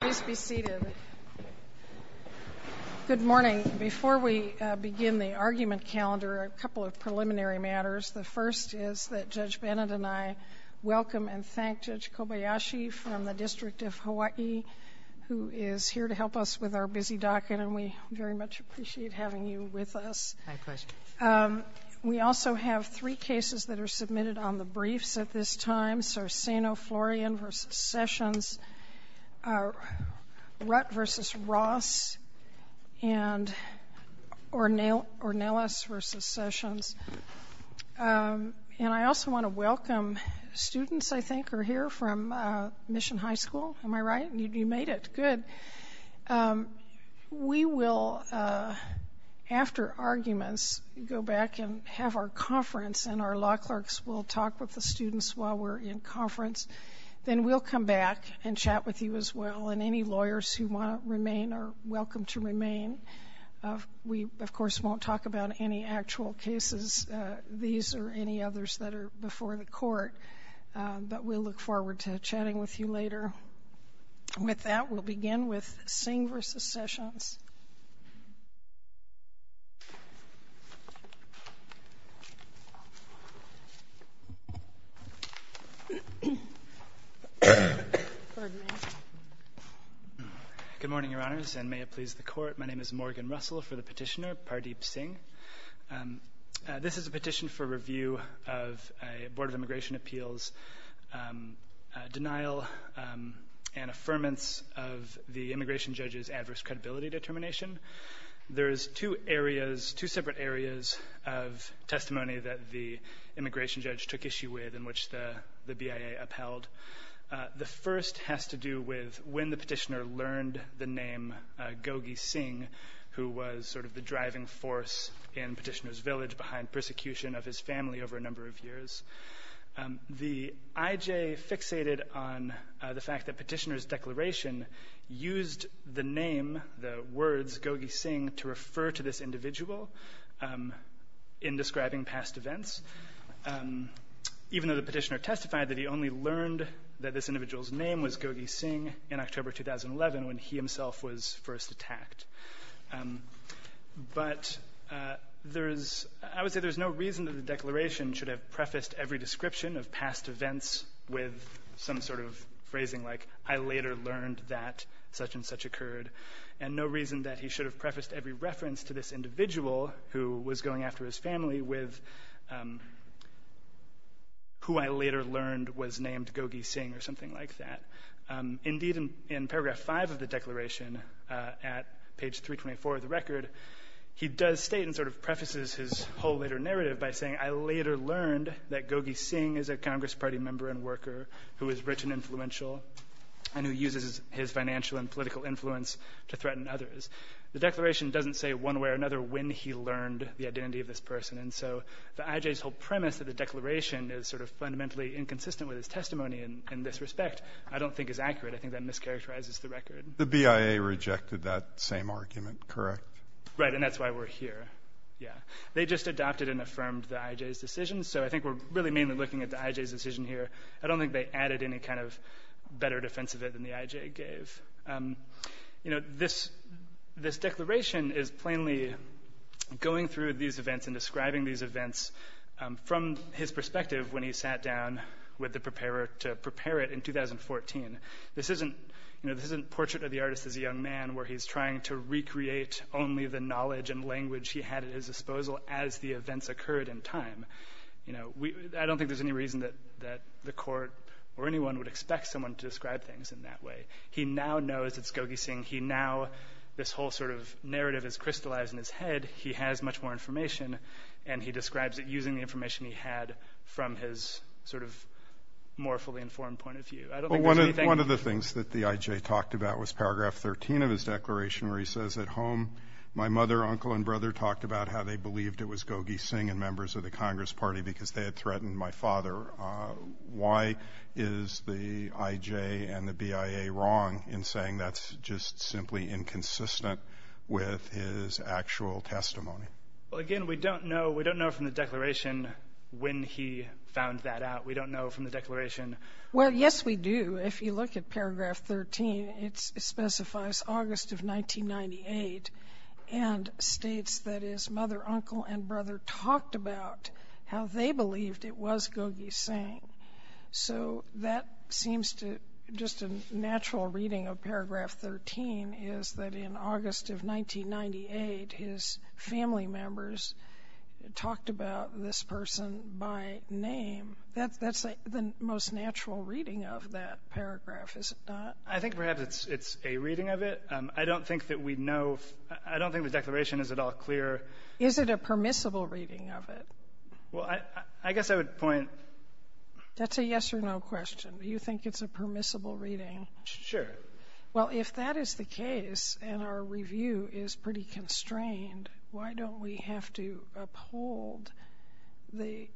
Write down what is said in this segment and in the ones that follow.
Please be seated. Good morning. Before we begin the argument calendar, a couple of preliminary matters. The first is that Judge Bennett and I welcome and thank Judge Kobayashi from the District of Hawaii, who is here to help us with our busy docket, and we very much appreciate having you with us. We also have three cases that are submitted on the briefs at this time, and those are Sano, Florian v. Sessions, Rutt v. Ross, and Ornelas v. Sessions. And I also want to welcome students, I think, who are here from Mission High School. Am I right? You made it. Good. We will, after arguments, go back and have our conference, and our law clerks will talk with the students while we're in conference. Then we'll come back and chat with you as well, and any lawyers who want to remain are welcome to remain. We, of course, won't talk about any actual cases, these or any others that are before the court, but we'll look forward to chatting with you later. With that, we'll begin with Singh v. Sessions. Good morning, Your Honors, and may it please the Court. My name is Morgan Russell for the Petitioner, Pardeep Singh. This is a petition for review of a Board of Immigration Appeals denial and affirmance of the immigration judge's adverse credibility determination. There is two areas, two separate areas of testimony that the immigration judge took issue with and which the BIA upheld. The first has to do with when the petitioner learned the name Gogi Singh, who was sort of the driving force in Petitioner's village behind persecution of his family over a number of years. The IJ fixated on the fact that Petitioner's declaration used the name, the words, Gogi Singh to refer to this individual in describing past events, even though the petitioner testified that he only learned that this individual's name was Gogi Singh in October 2011 when he himself was first attacked. But there is no reason that the declaration should have prefaced every description of past events with some sort of phrasing like, I later learned that such and such occurred, and no reason that he should have prefaced every reference to this individual who was going after his family with who I later learned was named Gogi Singh or something like that. Indeed, in paragraph 5 of the declaration at page 324 of the record, he does state and sort of prefaces his whole later narrative by saying, I later learned that Gogi Singh is a Congress Party member and worker who is rich and influential and who uses his financial and political influence to threaten others. The declaration doesn't say one way or another when he learned the identity of this person. And so the IJ's whole premise of the declaration is sort of fundamentally inconsistent with his testimony in this respect. I don't think it's accurate. I think that mischaracterizes the record. The BIA rejected that same argument, correct? Right, and that's why we're here. Yeah. They just adopted and affirmed the IJ's decision, so I think we're really mainly looking at the IJ's decision here. I don't think they added any kind of better defense of it than the IJ gave. You know, this declaration is plainly going through these events and describing these events from his perspective when he sat down with the preparer to prepare it in 2014. This isn't, you know, this isn't Portrait of the Artist as a Young Man where he's trying to recreate only the knowledge and language he had at his disposal as the events occurred in time. You know, I don't think there's any reason that the court or anyone would expect someone to describe things in that way. He now knows it's Gogi Singh. He now, this whole sort of narrative is crystallized in his head. He has much more information, and he describes it using the information he had from his sort of more fully informed point of view. I don't think there's anything. Well, one of the things that the IJ talked about was Paragraph 13 of his declaration where he says, at home my mother, uncle, and brother talked about how they believed it was Gogi Singh and members of the Congress Party because they had threatened my father. Why is the IJ and the BIA wrong in saying that's just simply inconsistent with his actual testimony? Well, again, we don't know. We don't know from the declaration when he found that out. We don't know from the declaration. Well, yes, we do. If you look at Paragraph 13, it specifies August of 1998 and states that his mother, uncle, and brother talked about how they believed it was Gogi Singh. So that seems to just a natural reading of Paragraph 13 is that in August of 1998, his family members talked about this person by name. That's the most natural reading of that paragraph, is it not? I think perhaps it's a reading of it. I don't think that we know. I don't think the declaration is at all clear. Is it a permissible reading of it? Well, I guess I would point. That's a yes or no question. Do you think it's a permissible reading? Sure. Well, if that is the case and our review is pretty constrained, why don't we have to uphold the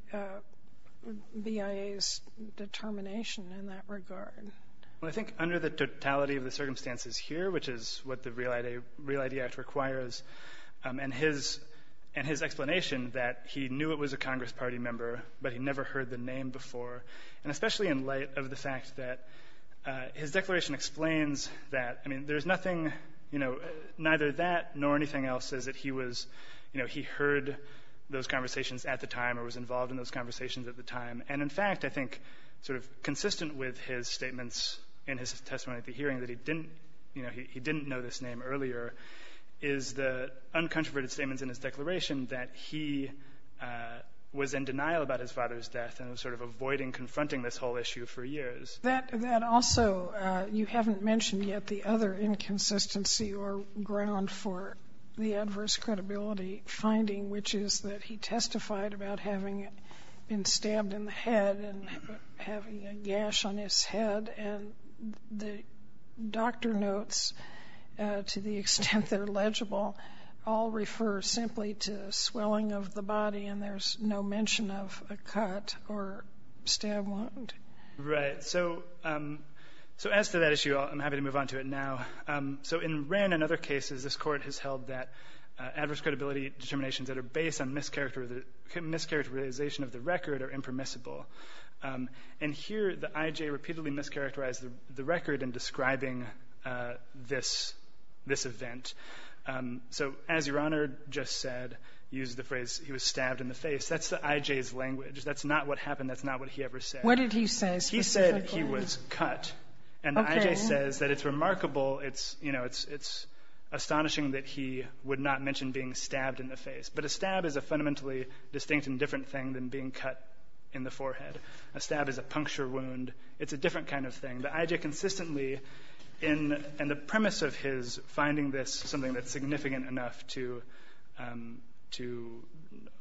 BIA's determination in that regard? Well, I think under the totality of the circumstances here, which is what the Real ID Act requires and his explanation that he knew it was a Congress Party member, but he never heard the name before, and especially in light of the fact that his declaration explains that. I mean, there's nothing, you know, neither that nor anything else says that he was, you know, he heard those conversations at the time or was involved in those conversations at the time. And, in fact, I think sort of consistent with his statements in his testimony at the hearing that he didn't, you know, he didn't know this name earlier, is the uncontroverted statements in his declaration that he was in denial about his father's death and was sort of avoiding confronting this whole issue for years. That also, you haven't mentioned yet the other inconsistency or ground for the adverse credibility finding, which is that he testified about having been stabbed in the head and having a gash on his head, and the doctor notes, to the extent they're legible, all refer simply to swelling of the body and there's no mention of a cut or stab wound. Right. So as to that issue, I'm happy to move on to it now. So in Wren and other cases, this Court has held that adverse credibility determinations that are based on mischaracterization of the record are impermissible. And here the I.J. repeatedly mischaracterized the record in describing this event. So as Your Honor just said, used the phrase, he was stabbed in the face, that's the I.J.'s language. That's not what happened. That's not what he ever said. What did he say specifically? He said he was cut. Okay. And the I.J. says that it's remarkable, it's, you know, it's astonishing that he would not mention being stabbed in the face. But a stab is a fundamentally distinct and different thing than being cut in the forehead. A stab is a puncture wound. It's a different kind of thing. The I.J. consistently, in the premise of his finding this something that's significant enough to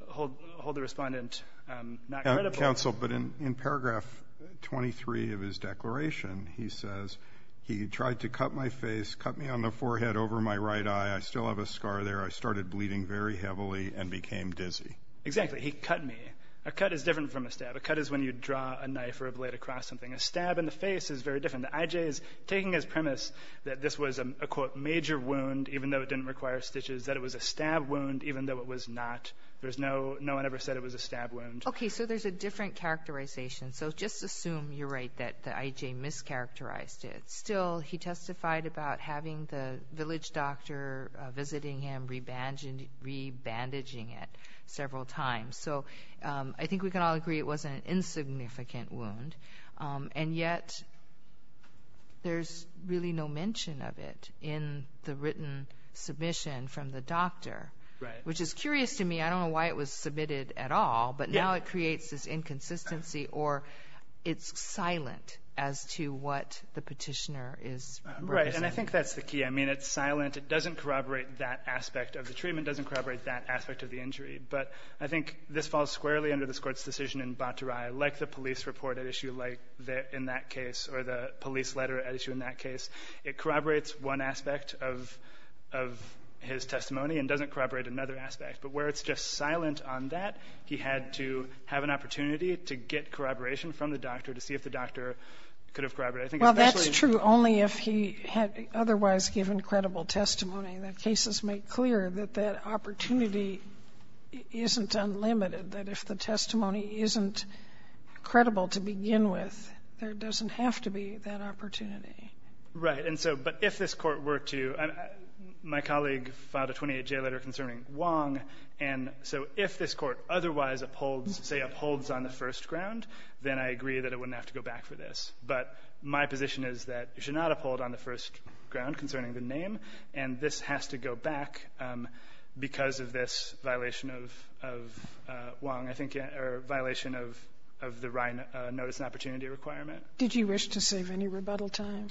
hold the Respondent not credible. Counsel, but in paragraph 23 of his declaration, he says, he tried to cut my face, cut me on the forehead over my right eye. I still have a scar there. I started bleeding very heavily and became dizzy. Exactly. He cut me. A cut is different from a stab. A cut is when you draw a knife or a blade across something. A stab in the face is very different. The I.J. is taking his premise that this was a, quote, major wound, even though it didn't require stitches, that it was a stab wound, even though it was not. There's no, no one ever said it was a stab wound. Okay. So there's a different characterization. So just assume you're right that the I.J. mischaracterized it. Still, he testified about having the village doctor visiting him, re-bandaging it several times. So I think we can all agree it was an insignificant wound. And yet there's really no mention of it in the written submission from the doctor. Right. Which is curious to me. I don't know why it was submitted at all. But now it creates this inconsistency or it's silent as to what the Petitioner is representing. Right. And I think that's the key. I mean, it's silent. It doesn't corroborate that aspect of the treatment. It doesn't corroborate that aspect of the injury. But I think this falls squarely under this Court's decision in Battarai. Like the police report at issue, like in that case, or the police letter at issue in that case, it corroborates one aspect of his testimony and doesn't corroborate another aspect. But where it's just silent on that, he had to have an opportunity to get corroboration from the doctor to see if the doctor could have corroborated it. Well, that's true only if he had otherwise given credible testimony. The cases make clear that that opportunity isn't unlimited, that if the testimony isn't credible to begin with, there doesn't have to be that opportunity. Right. And so, but if this Court were to my colleague filed a 28-J letter concerning Wong, and so if this Court otherwise upholds, say, upholds on the first ground, then I agree that it wouldn't have to go back for this. But my position is that it should not uphold on the first ground concerning the name, and this has to go back because of this violation of Wong, I think, or violation of the Ryan notice and opportunity requirement. Did you wish to save any rebuttal time?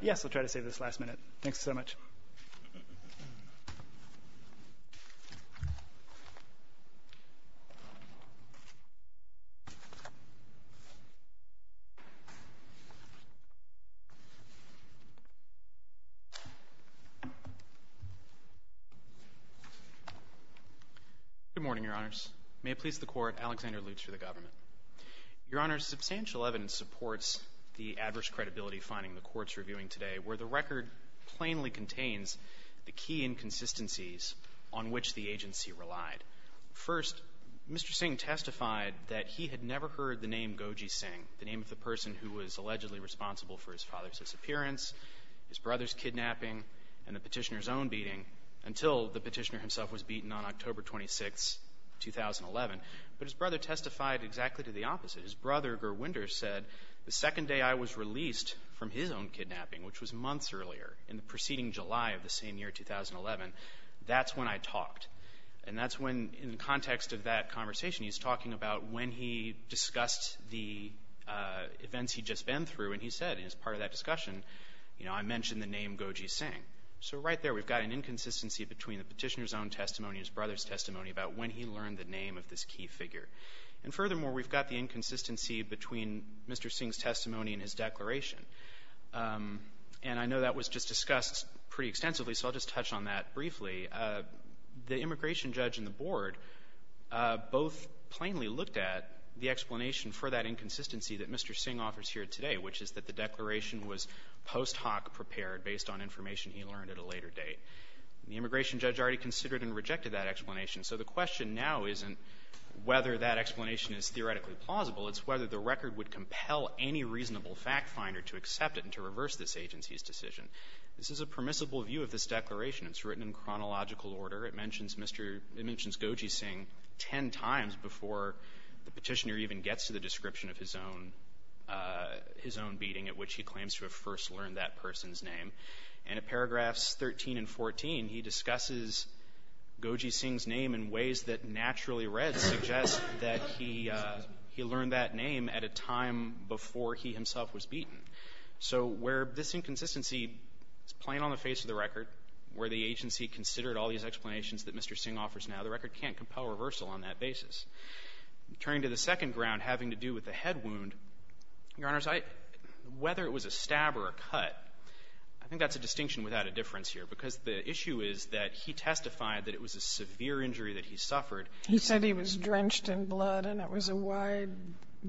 Yes, I'll try to save this last minute. Thanks so much. Good morning, Your Honors. May it please the Court, Alexander Lutz for the government. Your Honors, substantial evidence supports the adverse credibility finding the Court's reviewing today, where the record plainly contains the key inconsistencies on which the agency relied. First, Mr. Singh testified that he had never heard the name Goji Singh, the name of the person who was allegedly responsible for his father's disappearance, his brother's kidnapping, and the Petitioner's own beating, until the Petitioner himself was beaten on October 26, 2011. But his brother testified exactly to the opposite. His brother, Gurwinder, said, the second day I was released from his own kidnapping, which was months earlier, in the preceding July of the same year, 2011, that's when I talked. And that's when, in the context of that conversation, he's talking about when he discussed the events he'd just been through, and he said, as part of that discussion, you know, I mentioned the name Goji Singh. So right there, we've got an inconsistency between the Petitioner's own testimony and his brother's testimony about when he learned the name of this key figure. And furthermore, we've got the inconsistency between Mr. Singh's testimony and his declaration. And I know that was just discussed pretty extensively, so I'll just touch on that briefly. The immigration judge and the board both plainly looked at the explanation for that inconsistency that Mr. Singh offers here today, which is that the declaration was post hoc prepared based on information he learned at a later date. The immigration judge already considered and rejected that explanation. So the question now isn't whether that explanation is theoretically plausible. It's whether the record would compel any reasonable fact finder to accept it and to reverse this agency's decision. This is a permissible view of this declaration. It's written in chronological order. It mentions Mr. — it mentions Goji Singh ten times before the Petitioner even gets to the description of his own — his own beating at which he claims to have first learned that person's name. And at paragraphs 13 and 14, he discusses Goji Singh's name in ways that naturally read suggest that he — he learned that name at a time before he himself was beaten. So where this inconsistency is plain on the face of the record, where the agency considered all these explanations that Mr. Singh offers now, the record can't compel reversal on that basis. Turning to the second ground having to do with the head wound, Your Honors, I — whether it was a stab or a cut, I think that's a distinction without a difference here. Because the issue is that he testified that it was a severe injury that he suffered. He said he was drenched in blood and it was a wide,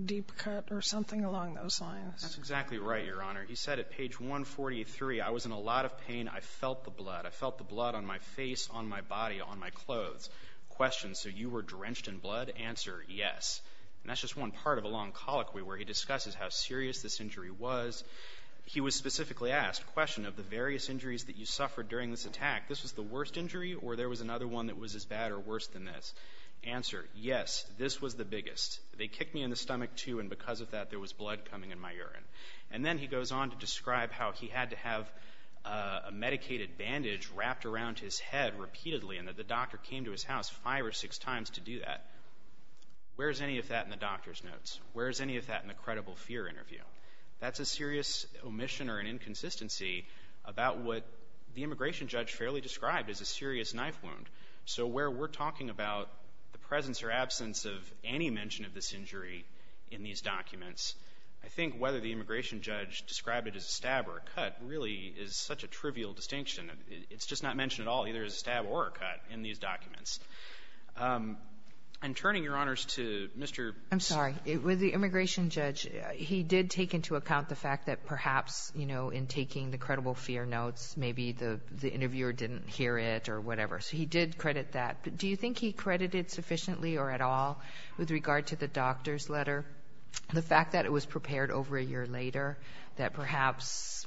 deep cut or something along those lines. That's exactly right, Your Honor. He said at page 143, I was in a lot of pain. I felt the blood. I felt the blood on my face, on my body, on my clothes. Question, so you were drenched in blood? Answer, yes. And that's just one part of a long colloquy where he discusses how serious this injury was. He was specifically asked, question, of the various injuries that you suffered during this attack, this was the worst injury or there was another one that was as bad or worse than this? Answer, yes, this was the biggest. They kicked me in the stomach, too, and because of that there was blood coming in my urine. And then he goes on to describe how he had to have a medicated bandage wrapped around his head repeatedly and that the doctor came to his house five or six times to do that. Where is any of that in the doctor's notes? Where is any of that in the credible fear interview? That's a serious omission or an inconsistency about what the immigration judge fairly described as a serious knife wound. So where we're talking about the presence or absence of any mention of this injury in these documents, I think whether the immigration judge described it as a stab or a cut really is such a trivial distinction. It's just not mentioned at all either as a stab or a cut in these documents. And turning, Your Honors, to Mr. ---- I'm sorry. With the immigration judge, he did take into account the fact that perhaps, you know, in taking the credible fear notes, maybe the interviewer didn't hear it or whatever. So he did credit that. But do you think he credited sufficiently or at all with regard to the doctor's letter, the fact that it was prepared over a year later, that perhaps,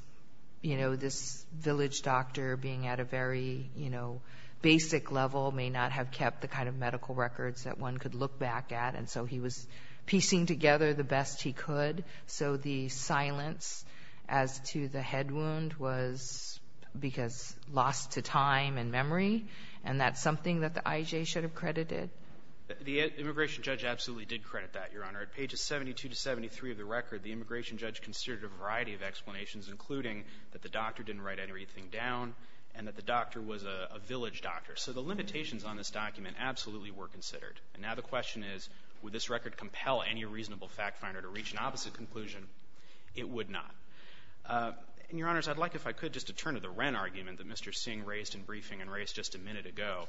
you know, this village doctor being at a very, you know, basic level may not have kept the kind of medical records that one could look back at? And so he was piecing together the best he could. So the silence as to the head wound was because lost to time and memory, and that's something that the I.J. should have credited? The immigration judge absolutely did credit that, Your Honor. At pages 72 to 73 of the record, the immigration judge considered a variety of explanations, including that the doctor didn't write anything down and that the doctor was a village doctor. So the limitations on this document absolutely were considered. And now the question is, would this record compel any reasonable fact finder to reach an opposite conclusion? It would not. And, Your Honors, I'd like, if I could, just to turn to the Wren argument that Mr. Singh raised in briefing and raised just a minute ago.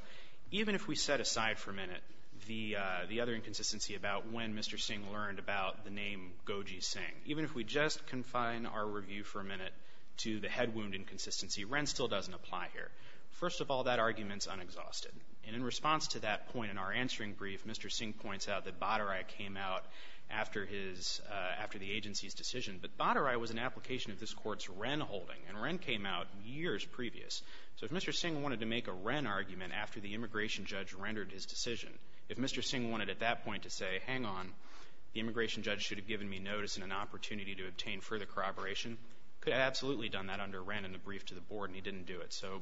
Even if we set aside for a minute the other inconsistency about when Mr. Singh learned about the name Goji Singh, even if we just confine our review for a minute to the head wound inconsistency, Wren still doesn't apply here. First of all, that argument's unexhausted. And in response to that point in our answering brief, Mr. Singh points out that Badarai came out after his, after the agency's decision. But Badarai was an application of this Court's Wren holding, and Wren came out years previous. So if Mr. Singh wanted to make a Wren argument after the immigration judge rendered his decision, if Mr. Singh wanted at that point to say, hang on, the immigration judge should have given me notice and an opportunity to obtain further corroboration, could have absolutely done that under Wren in the brief to the Board, and he didn't do it. So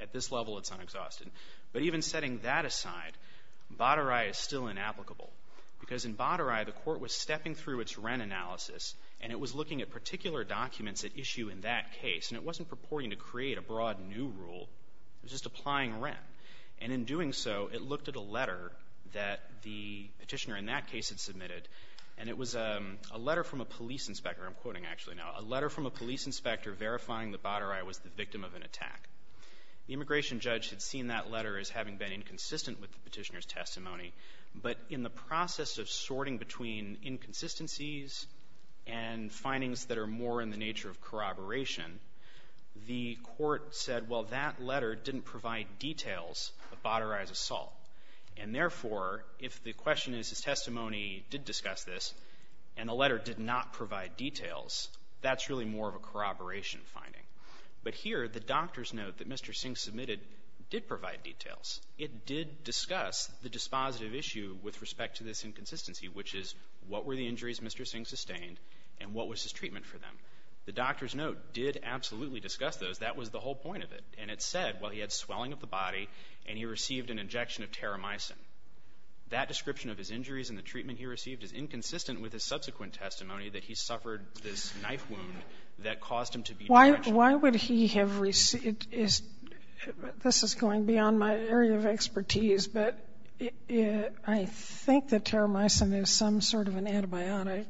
at this level, it's unexhausted. But even setting that aside, Badarai is still inapplicable. Because in Badarai, the Court was stepping through its Wren analysis, and it was looking at particular documents at issue in that case. And it wasn't purporting to create a broad new rule. It was just applying Wren. And in doing so, it looked at a letter that the Petitioner in that case had submitted, and it was a letter from a police inspector. I'm quoting actually now. A letter from a police inspector verifying that Badarai was the victim of an attack. The immigration judge had seen that letter as having been inconsistent with the Petitioner's testimony, but in the process of sorting between inconsistencies and findings that are more in the nature of corroboration, the Court said, well, that letter didn't provide details of Badarai's assault. And therefore, if the question is his testimony did discuss this and the letter did not provide details, that's really more of a corroboration finding. But here, the doctor's note that Mr. Singh submitted did provide details. It did discuss the dispositive issue with respect to this inconsistency, which is what were the injuries Mr. Singh sustained and what was his treatment for them. The doctor's note did absolutely discuss those. That was the whole point of it. And it said, well, he had swelling of the body and he received an injection of teramicin. That description of his injuries and the treatment he received is inconsistent with his subsequent testimony that he suffered this knife wound that caused him to be dredged. Sotomayor Why would he have received this? This is going beyond my area of expertise, but I think that teramicin is some sort of an antibiotic.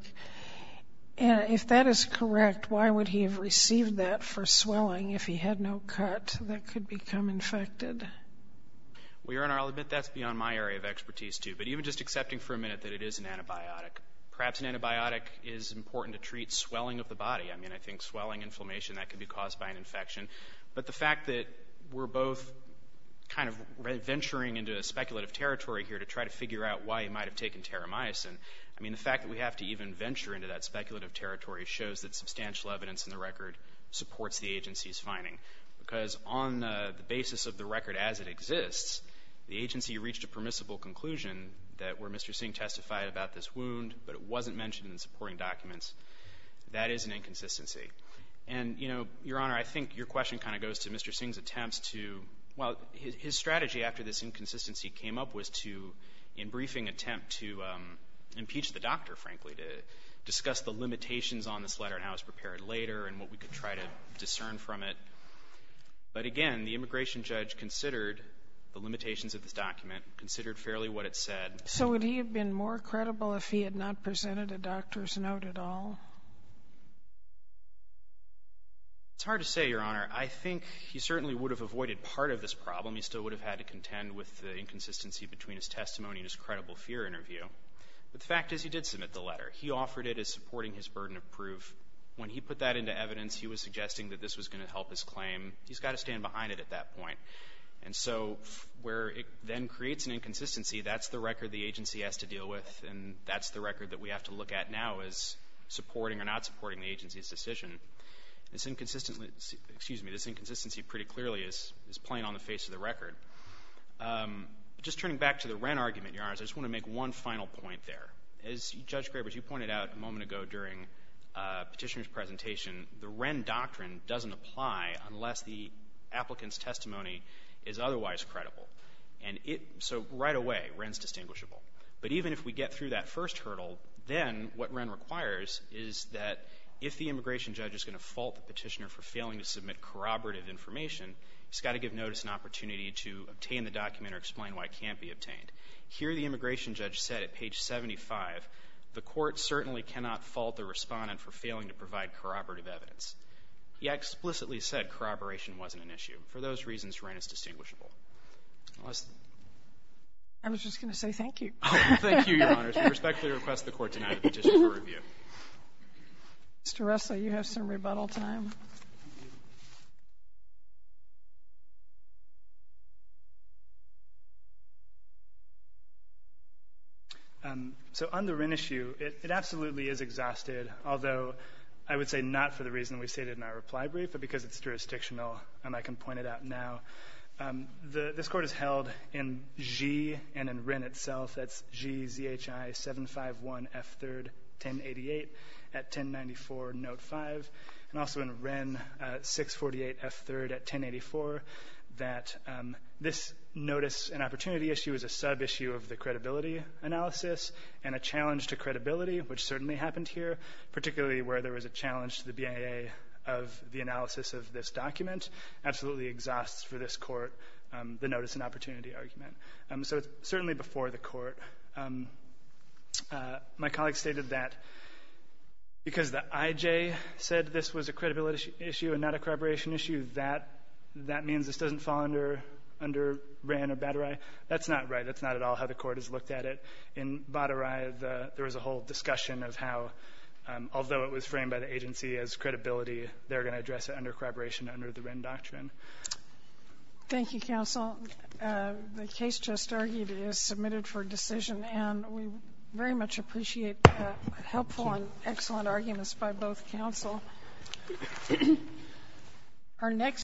And if that is correct, why would he have received that for swelling if he had no cut that could become infected? Well, Your Honor, I'll admit that's beyond my area of expertise, too. But even just accepting for a minute that it is an antibiotic, perhaps an antibiotic is important to treat swelling of the body. I mean, I think swelling, inflammation, that could be caused by an infection. But the fact that we're both kind of venturing into speculative territory here to try to figure out why he might have taken teramicin. I mean, the fact that we have to even venture into that speculative territory shows that substantial evidence in the record supports the agency's finding. Because on the basis of the record as it exists, the agency reached a permissible conclusion that where Mr. Singh testified about this wound, but it wasn't mentioned in the supporting documents, that is an inconsistency. And, you know, Your Honor, I think your question kind of goes to Mr. Singh's attempts to – well, his strategy after this inconsistency came up was to, in briefing, attempt to impeach the doctor, frankly, to discuss the limitations on this letter and how it was prepared later and what we could try to discern from it. But again, the immigration judge considered the limitations of this document, considered fairly what it said. So would he have been more credible if he had not presented a doctor's note at all? It's hard to say, Your Honor. I think he certainly would have avoided part of this problem. He still would have had to contend with the inconsistency between his testimony and his credible fear interview. But the fact is he did submit the letter. He offered it as supporting his burden of proof. When he put that into evidence, he was suggesting that this was going to help his claim. He's got to stand behind it at that point. And so where it then creates an inconsistency, that's the record the agency has to deal with, and that's the record that we have to look at now as supporting or not supporting the agency's decision. This inconsistency pretty clearly is plain on the face of the record. Just turning back to the Wren argument, Your Honors, I just want to make one final point there. As Judge Grabers, you pointed out a moment ago during Petitioner's presentation, the Wren doctrine doesn't apply unless the applicant's testimony is otherwise credible. And so right away, Wren's distinguishable. But even if we get through that first hurdle, then what Wren requires is that if the immigration judge is going to fault the Petitioner for failing to submit corroborative information, he's got to give notice and opportunity to obtain the document or explain why it can't be obtained. Here, the immigration judge said at page 75, the Court certainly cannot fault the Respondent for failing to provide corroborative evidence. He explicitly said corroboration wasn't an issue. For those reasons, Wren is distinguishable. I was just going to say thank you. Thank you, Your Honors. We respectfully request the Court to deny the petition for review. Mr. Russell, you have some rebuttal time. So on the Wren issue, it absolutely is exhausted, although I would say not for the reason we stated in our reply brief, but because it's jurisdictional and I can point it out now. This Court has held in Xi and in Wren itself, that's Xi ZHI 751 F3rd 1088 at 1094 Note 5, and also in Wren 648 F3rd at 1084, that this notice and opportunity issue is a sub-issue of the credibility analysis and a challenge to credibility, which certainly happened here, particularly where there was a challenge to the BIA of the analysis of this document. Absolutely exhausts for this Court the notice and opportunity argument. So it's certainly before the Court. My colleague stated that because the IJ said this was a credibility issue and not a corroboration issue, that means this doesn't fall under Wren or Badarai. That's not right. That's not at all how the Court has looked at it. In Badarai, there was a whole discussion of how, although it was framed by the agency as credibility, they're going to address it under corroboration under the Wren Doctrine. Thank you, counsel. The case just argued is submitted for decision, and we very much appreciate helpful and excellent arguments by both counsel.